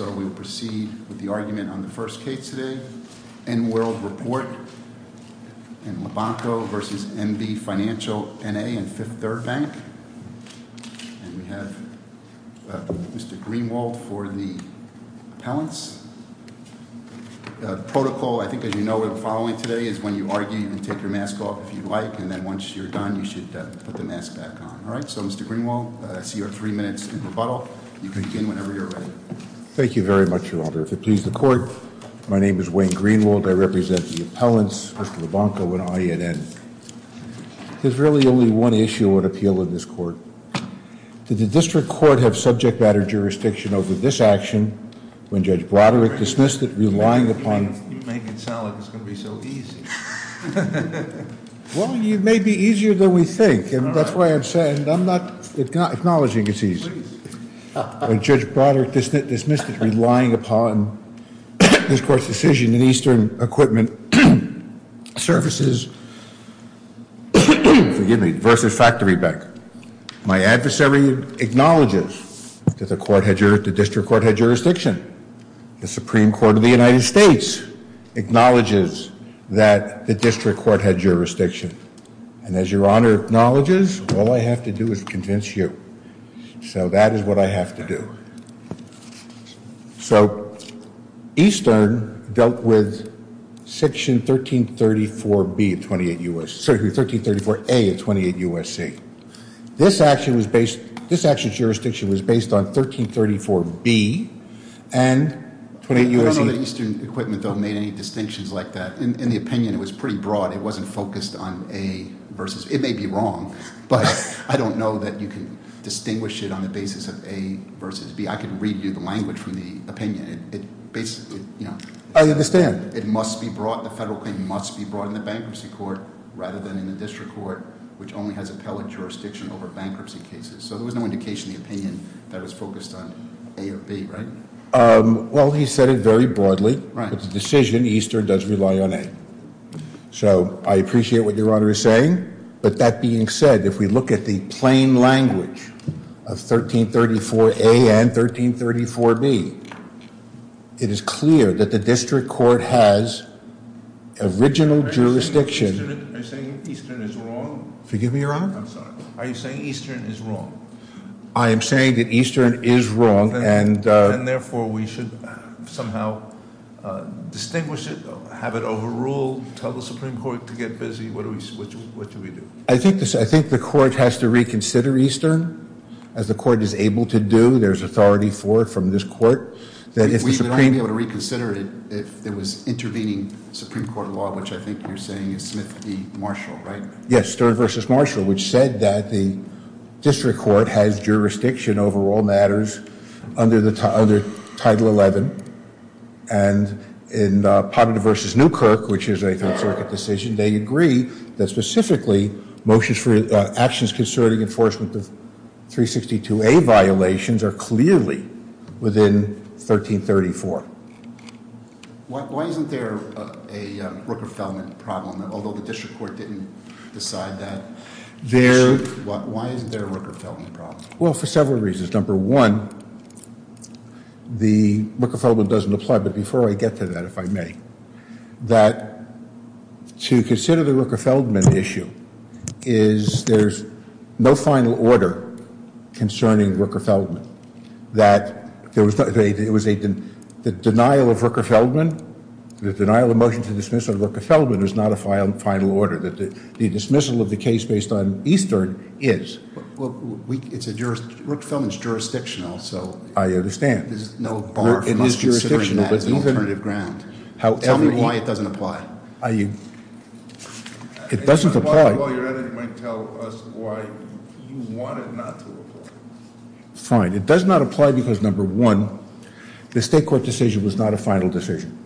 and Fifth Third Bank. And we have Mr. Greenwald for the appellants. The protocol, I think, as you know, we're following today, is when you argue, you can take your mask off if you like, and then once you're done, you should put the mask back on. All right? So, Mr. Greenwald, I see you have three minutes in rebuttal. You can begin whenever you're ready. Thank you very much, Your Honor. If it pleases the Court, my name is Wayne Greenwald. I represent the appellants, Mr. Labonco and I at N. There's really only one issue on appeal in this court. Did the district court have subject matter jurisdiction over this action when Judge Broderick dismissed it, relying upon- You make it sound like it's going to be so easy. Well, it may be easier than we think, and that's why I'm saying I'm not acknowledging it's easy. When Judge Broderick dismissed it, relying upon this court's decision in Eastern Equipment Services v. Factory Bank, my adversary acknowledges that the district court had jurisdiction. The Supreme Court of the United States acknowledges that the district court had jurisdiction. And as Your Honor acknowledges, all I have to do is convince you. So that is what I have to do. So, Eastern dealt with Section 1334A of 28 U.S.C. This action's jurisdiction was based on 1334B and 28 U.S.C. I don't know that Eastern Equipment, though, made any distinctions like that. In the opinion, it was pretty broad. It wasn't focused on A versus- It may be wrong, but I don't know that you can distinguish it on the basis of A versus B. I can read you the language from the opinion. It basically- I understand. It must be brought- The federal claim must be brought in the bankruptcy court rather than in the district court, which only has appellate jurisdiction over bankruptcy cases. So there was no indication in the opinion that it was focused on A or B, right? Well, he said it very broadly. It's a decision. Eastern does rely on A. So I appreciate what Your Honor is saying, but that being said, if we look at the plain language of 1334A and 1334B, it is clear that the district court has original jurisdiction- Are you saying Eastern is wrong? Forgive me, Your Honor? I'm sorry. Are you saying Eastern is wrong? I am saying that Eastern is wrong, and- Then, therefore, we should somehow distinguish it, have it overruled, tell the Supreme Court to get busy. What do we do? I think the court has to reconsider Eastern. As the court is able to do, there's authority for it from this court. We would only be able to reconsider it if it was intervening Supreme Court law, which I think you're saying is Smith v. Marshall, right? Yes, Stern v. Marshall, which said that the district court has jurisdiction over all matters under Title XI, and in Ponderton v. Newkirk, which is a Third Circuit decision, they agree that specifically motions for actions concerning enforcement of 362A violations are clearly within 1334. Why isn't there a Rooker-Feldman problem, although the district court didn't decide that? Why isn't there a Rooker-Feldman problem? Well, for several reasons. Number one, the Rooker-Feldman doesn't apply, but before I get to that, if I may, that to consider the Rooker-Feldman issue is there's no final order concerning Rooker-Feldman. The denial of Rooker-Feldman, the denial of motion to dismiss on Rooker-Feldman is not a final order. The dismissal of the case based on Eastern is. Rooker-Feldman is jurisdictional, so there's no bar for us considering that as an alternative ground. Tell me why it doesn't apply. It doesn't apply. Fine. It does not apply because, number one, the state court decision was not a final decision.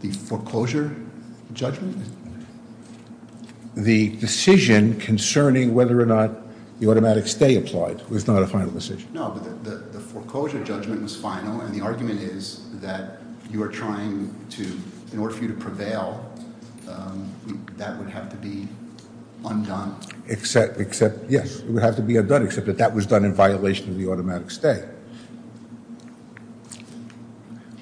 The foreclosure judgment? The decision concerning whether or not the automatic stay applied was not a final decision. No, but the foreclosure judgment was final, and the argument is that you are trying to, in order for you to prevail, that would have to be undone. Except, yes, it would have to be undone, except that that was done in violation of the automatic stay.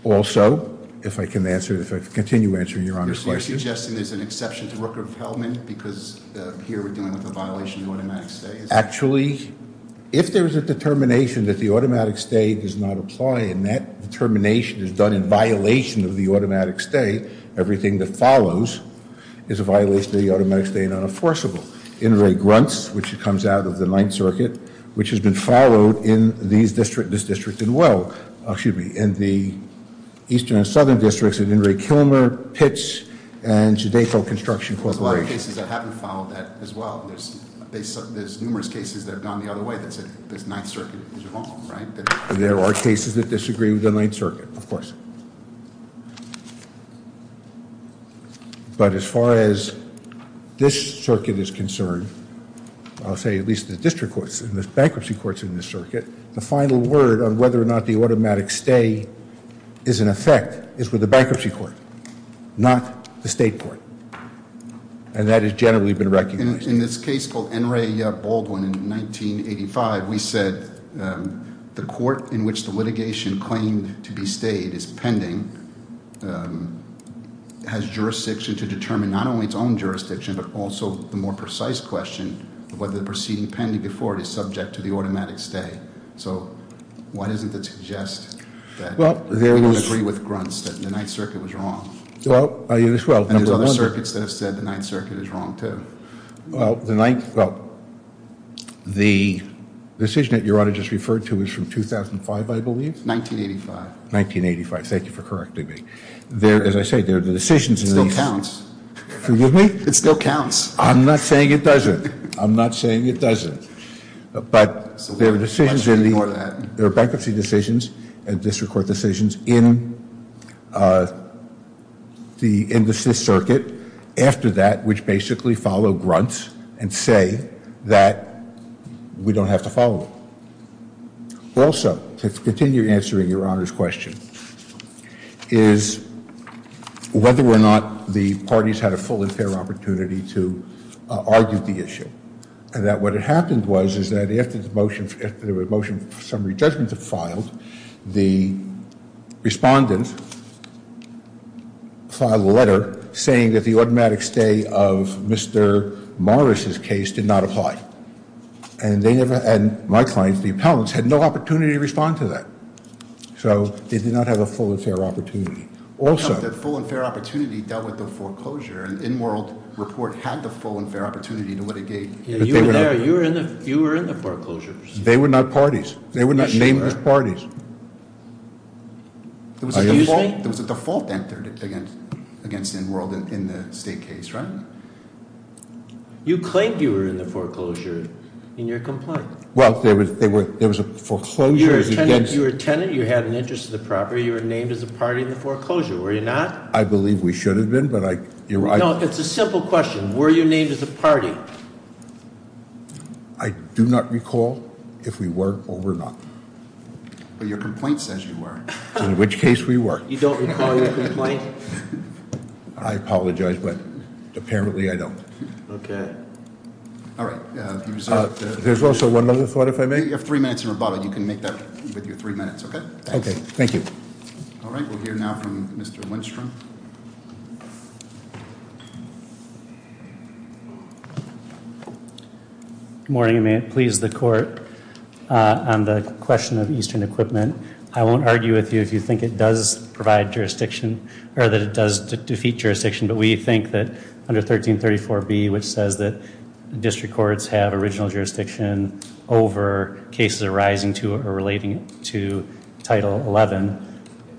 Also, if I can answer, if I can continue answering Your Honor's question. You're suggesting there's an exception to Rooker-Feldman because here we're dealing with a violation of the automatic stay? Actually, if there's a determination that the automatic stay does not apply, and that determination is done in violation of the automatic stay, everything that follows is a violation of the automatic stay and unenforceable. In re Gruntz, which comes out of the Ninth Circuit, which has been followed in this district as well, excuse me, in the Eastern and Southern districts, in In re Kilmer, Pitts, and Jodayfield Construction Corporation. There's a lot of cases that haven't followed that as well. There's numerous cases that have gone the other way that say the Ninth Circuit is wrong, right? There are cases that disagree with the Ninth Circuit, of course. But as far as this circuit is concerned, I'll say at least the district courts and the bankruptcy courts in this circuit, the final word on whether or not the automatic stay is in effect is with the bankruptcy court, not the state court, and that has generally been recognized. In this case called N. Ray Baldwin in 1985, we said the court in which the litigation claimed to be stayed is pending, has jurisdiction to determine not only its own jurisdiction, but also the more precise question of whether the proceeding pending before it is subject to the automatic stay. So why doesn't it suggest that we don't agree with Gruntz that the Ninth Circuit was wrong? And there's other circuits that have said the Ninth Circuit is wrong, too. Well, the decision that Your Honor just referred to is from 2005, I believe? 1985. 1985. Thank you for correcting me. As I say, the decisions in these – It still counts. Forgive me? It still counts. I'm not saying it doesn't. I'm not saying it doesn't. But there are decisions in the – So we must record that. There are bankruptcy decisions and district court decisions in the NDSIS circuit after that, which basically follow Gruntz and say that we don't have to follow them. Also, to continue answering Your Honor's question, is whether or not the parties had a full and fair opportunity to argue the issue. And that what had happened was, is that after the motion – after the motion for summary judgment was filed, the respondent filed a letter saying that the automatic stay of Mr. Morris' case did not apply. And they never – and my client, the appellants, had no opportunity to respond to that. So they did not have a full and fair opportunity. Also – The full and fair opportunity dealt with the foreclosure, and the N-World report had the full and fair opportunity to what it gave. You were in the foreclosures. They were not parties. They were not named as parties. There was a default entered against N-World in the state case, right? You claimed you were in the foreclosure in your complaint. Well, there was a foreclosure against – You were a tenant. You had an interest in the property. You were named as a party in the foreclosure, were you not? I believe we should have been, but I – No, it's a simple question. Were you named as a party? I do not recall if we were or were not. But your complaint says you were. In which case, we were. You don't recall your complaint? I apologize, but apparently I don't. Okay. All right. There's also one other thought, if I may. You have three minutes in rebuttal. You can make that with your three minutes, okay? Okay. Thank you. All right. We'll hear now from Mr. Lindstrom. Good morning. May it please the Court on the question of Eastern Equipment. I won't argue with you if you think it does provide jurisdiction or that it does defeat jurisdiction. But we think that under 1334B, which says that district courts have original jurisdiction over cases arising to or relating to Title XI,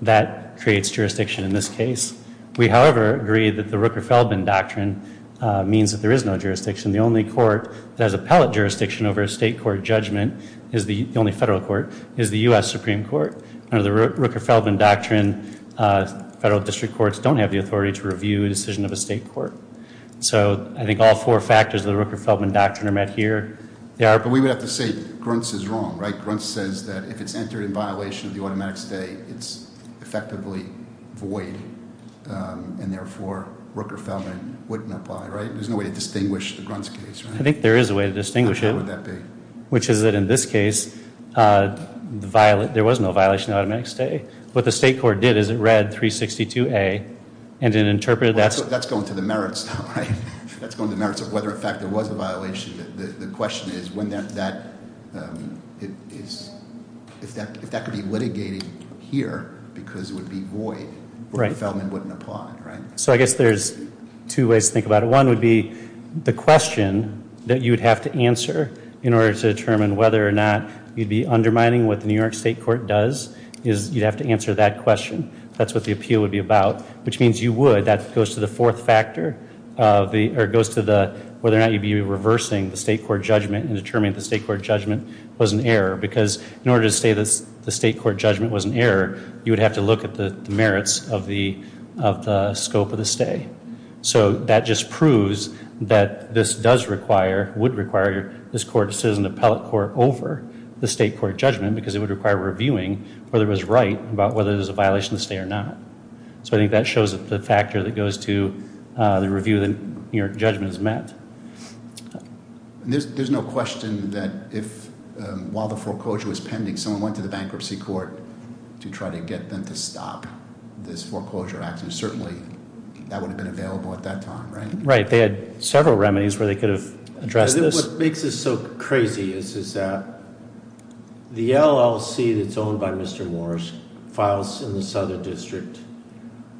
that creates jurisdiction in this case. We, however, agree that the Rooker-Feldman Doctrine means that there is no jurisdiction. The only court that has appellate jurisdiction over a state court judgment, the only federal court, is the U.S. Supreme Court. Under the Rooker-Feldman Doctrine, federal district courts don't have the authority to review a decision of a state court. So I think all four factors of the Rooker-Feldman Doctrine are met here. They are- But we would have to say Gruntz is wrong, right? Gruntz says that if it's entered in violation of the automatic stay, it's effectively void. And therefore, Rooker-Feldman wouldn't apply, right? There's no way to distinguish the Gruntz case, right? I think there is a way to distinguish it. How sure would that be? Which is that in this case, there was no violation of automatic stay. What the state court did is it read 362A and it interpreted that- That's going to the merits, though, right? That's going to the merits of whether, in fact, there was a violation. The question is if that could be litigated here because it would be void, Rooker-Feldman wouldn't apply, right? So I guess there's two ways to think about it. One would be the question that you would have to answer in order to determine whether or not you'd be undermining what the New York State Court does. You'd have to answer that question. That's what the appeal would be about, which means you would- That goes to the fourth factor, or it goes to whether or not you'd be reversing the state court judgment and determining if the state court judgment was an error because in order to say the state court judgment was an error, you would have to look at the merits of the scope of the stay. So that just proves that this does require, would require, this court to sit as an appellate court over the state court judgment because it would require reviewing whether it was right about whether it was a violation of the stay or not. So I think that shows the factor that goes to the review that New York judgment is met. There's no question that while the foreclosure was pending, someone went to the bankruptcy court to try to get them to stop this foreclosure action. Certainly, that would have been available at that time, right? Right, they had several remedies where they could have addressed this. What makes this so crazy is that the LLC that's owned by Mr. Morris files in the Southern District,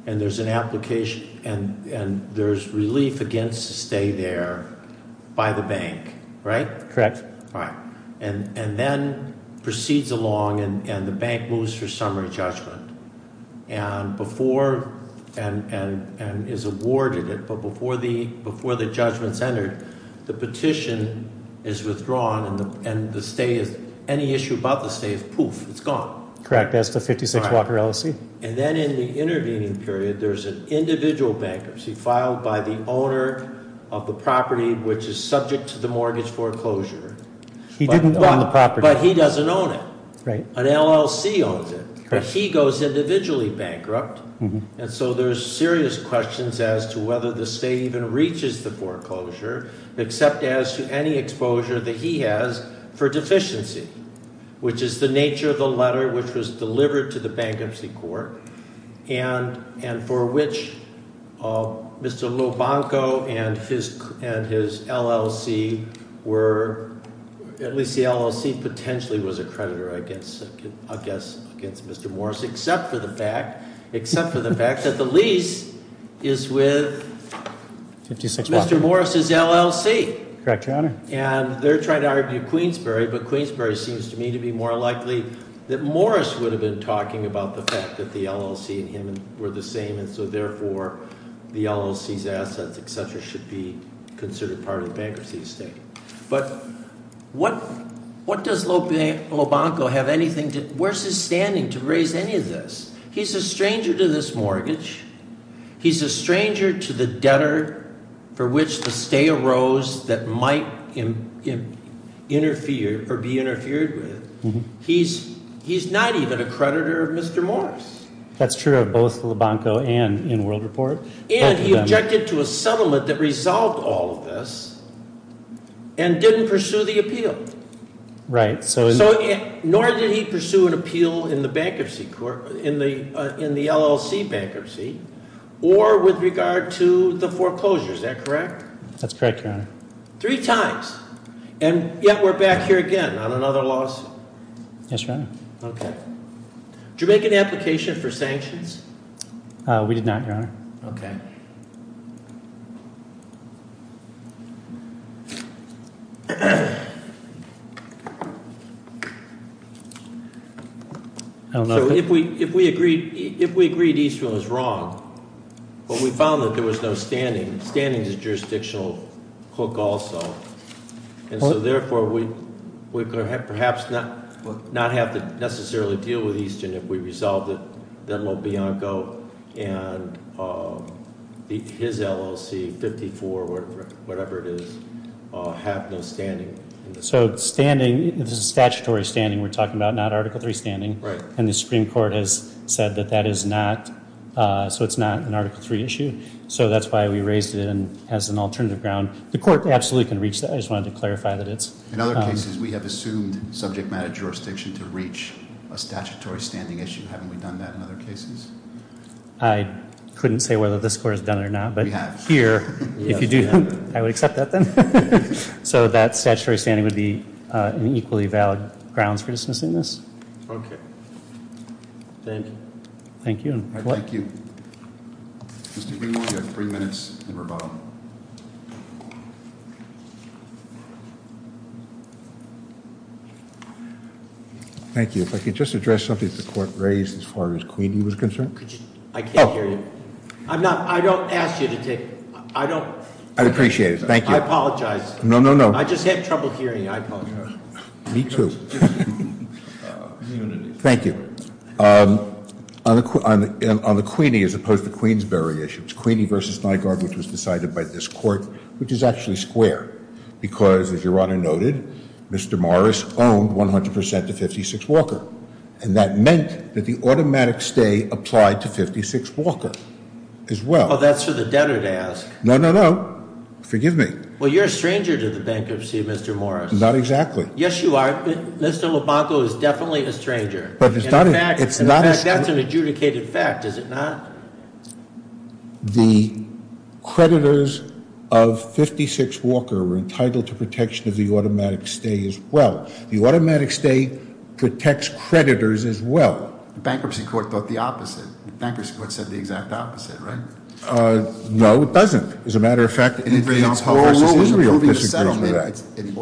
and there's an application, and there's relief against the stay there by the bank, right? Correct. Right, and then proceeds along, and the bank moves for summary judgment. And before, and is awarded it, but before the judgment's entered, the petition is withdrawn, and the stay is, any issue about the stay is poof, it's gone. Correct, that's the 56 Walker LLC. And then in the intervening period, there's an individual bankers. He filed by the owner of the property which is subject to the mortgage foreclosure. He didn't own the property. But he doesn't own it. Right. An LLC owns it. Correct. But he goes individually bankrupt. And so there's serious questions as to whether the stay even reaches the foreclosure, except as to any exposure that he has for deficiency, which is the nature of the letter which was delivered to the bankruptcy court. And for which Mr. Lobanco and his LLC were, at least the LLC potentially was a creditor, I guess, against Mr. Morris, except for the fact that the lease is with Mr. Morris's LLC. Correct, Your Honor. And they're trying to argue Queensborough, but Queensborough seems to me to be more likely that And so therefore, the LLC's assets, etc., should be considered part of the bankruptcy estate. But what does Lobanco have anything to, where's his standing to raise any of this? He's a stranger to this mortgage. He's a stranger to the debtor for which the stay arose that might interfere or be interfered with. He's not even a creditor of Mr. Morris. That's true of both Lobanco and in World Report. And he objected to a settlement that resolved all of this and didn't pursue the appeal. Right. Nor did he pursue an appeal in the LLC bankruptcy or with regard to the foreclosure. Is that correct? That's correct, Your Honor. Three times. Yes, Your Honor. Okay. Did you make an application for sanctions? We did not, Your Honor. Okay. I don't know- So if we agreed Easton was wrong, but we found that there was no standing. Standing is jurisdictional hook also. And so therefore, we perhaps not have to necessarily deal with Easton if we resolve it. And his LLC, 54, whatever it is, have no standing. So standing, this is statutory standing we're talking about, not Article III standing. Right. And the Supreme Court has said that that is not, so it's not an Article III issue. So that's why we raised it as an alternative ground. The court absolutely can reach that. I just wanted to clarify that it's- In other cases, we have assumed subject matter jurisdiction to reach a statutory standing issue. Haven't we done that in other cases? I couldn't say whether this court has done it or not. We have. But here, if you do, I would accept that then. So that statutory standing would be an equally valid grounds for dismissing this. Okay. Thank you. Thank you. Thank you. Mr. Greenwald, you have three minutes and rebuttal. Thank you. If I could just address something that the court raised as far as Queenie was concerned. I can't hear you. I'm not, I don't ask you to take, I don't- I'd appreciate it. Thank you. I apologize. No, no, no. I just have trouble hearing you. I apologize. Me too. Thank you. On the Queenie as opposed to Queensberry issue, it's Queenie v. Nygaard, which was decided by this court, which is actually square. Because, as your Honor noted, Mr. Morris owned 100% of 56 Walker. And that meant that the automatic stay applied to 56 Walker as well. Well, that's for the debtor to ask. No, no, no. Forgive me. Well, you're a stranger to the bankruptcy, Mr. Morris. Not exactly. Yes, you are. Mr. Lubanko is definitely a stranger. But it's not- In fact, that's an adjudicated fact, is it not? The creditors of 56 Walker were entitled to protection of the automatic stay as well. The automatic stay protects creditors as well. Bankruptcy court thought the opposite. Bankruptcy court said the exact opposite, right? No, it doesn't. As a matter of fact- It's oral ruling approving the settlement.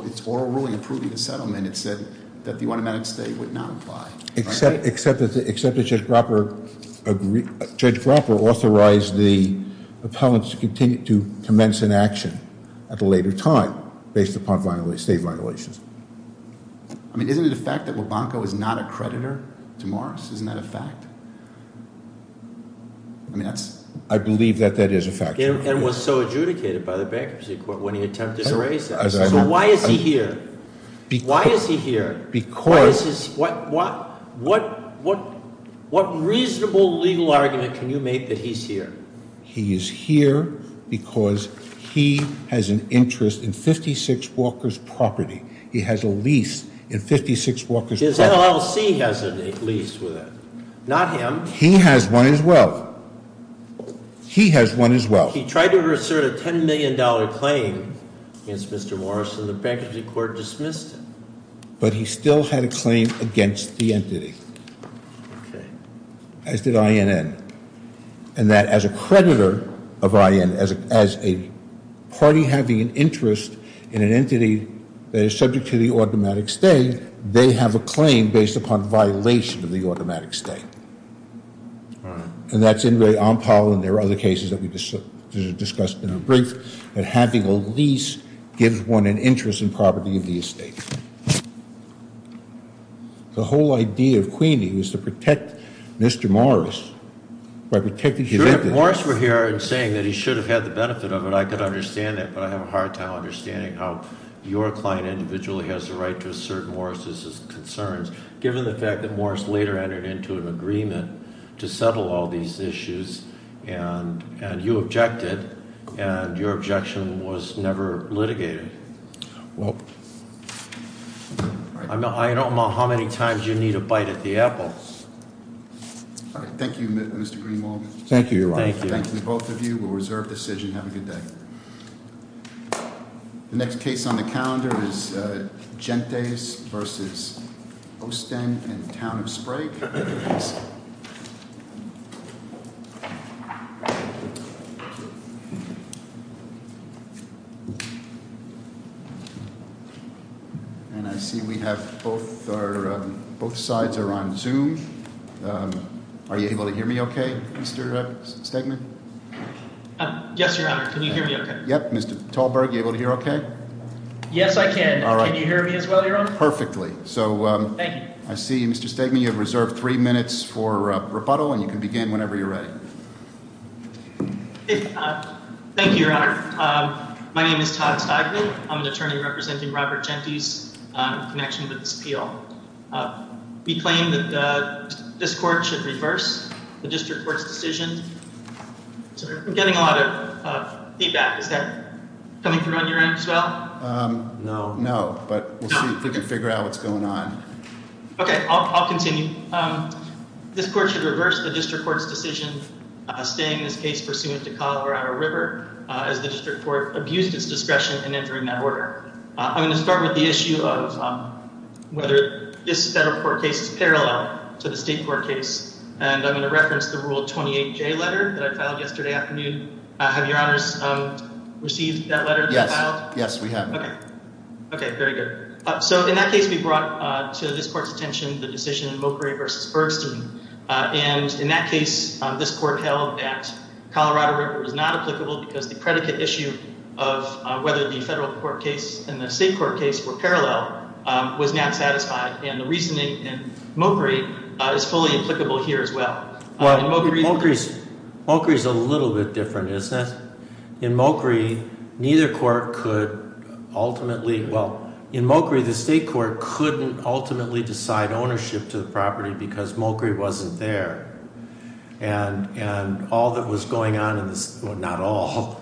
It's oral ruling approving the settlement. It said that the automatic stay would not apply. Except that Judge Grapper authorized the appellants to continue to commence an action at a later time based upon state violations. I mean, isn't it a fact that Lubanko is not a creditor to Morris? Isn't that a fact? I mean, I believe that that is a fact. And was so adjudicated by the bankruptcy court when he attempted to raise that. So why is he here? Why is he here? Because- What reasonable legal argument can you make that he's here? He is here because he has an interest in 56 Walker's property. He has a lease in 56 Walker's property. His LLC has a lease with it. Not him. He has one as well. He has one as well. He tried to assert a $10 million claim against Mr. Morris and the bankruptcy court dismissed it. But he still had a claim against the entity. As did INN. And that as a creditor of INN, as a party having an interest in an entity that is subject to the automatic stay, they have a claim based upon violation of the automatic stay. All right. And that's in the on pile, and there are other cases that we discussed in a brief, that having a lease gives one an interest in property of the estate. The whole idea of Queenie was to protect Mr. Morris by protecting his entity. If Morris were here and saying that he should have had the benefit of it, I could understand that, but I have a hard time understanding how your client individually has the right to assert Morris' concerns, given the fact that Morris later entered into an agreement to settle all these issues, and you objected, and your objection was never litigated. Well, I don't know how many times you need a bite at the apple. All right. Thank you, Mr. Greenwald. Thank you, Your Honor. Thank you. Thank you, both of you. We'll reserve decision. Have a good day. The next case on the calendar is Gentes v. Ostend and Town of Sprague. And I see we have both sides are on Zoom. Are you able to hear me okay, Mr. Stegman? Yes, Your Honor. Can you hear me okay? Yep. Mr. Talberg, are you able to hear okay? Yes, I can. Can you hear me as well, Your Honor? Perfectly. Thank you. I see, Mr. Stegman, you have reserved three minutes for rebuttal, and you can begin whenever you're ready. Thank you, Your Honor. My name is Todd Stegman. I'm an attorney representing Robert Gentes in connection with this appeal. We claim that this court should reverse the district court's decision. I'm getting a lot of feedback. Is that coming through on your end as well? No. No, but we'll see if we can figure out what's going on. Okay, I'll continue. This court should reverse the district court's decision, staying this case pursuant to Colorado River, as the district court abused its discretion in entering that order. I'm going to start with the issue of whether this federal court case is parallel to the state court case, and I'm going to reference the Rule 28J letter that I filed yesterday afternoon. Have Your Honors received that letter that you filed? Yes, yes, we have. Okay. Okay, very good. So in that case, we brought to this court's attention the decision in Mokry v. Bergston, and in that case, this court held that Colorado River was not applicable because the predicate issue of whether the federal court case and the state court case were parallel was not satisfied, and the reasoning in Mokry is fully applicable here as well. Mokry is a little bit different, isn't it? In Mokry, neither court could ultimately—well, in Mokry, the state court couldn't ultimately decide ownership to the property because Mokry wasn't there, and all that was going on in this—well, not all.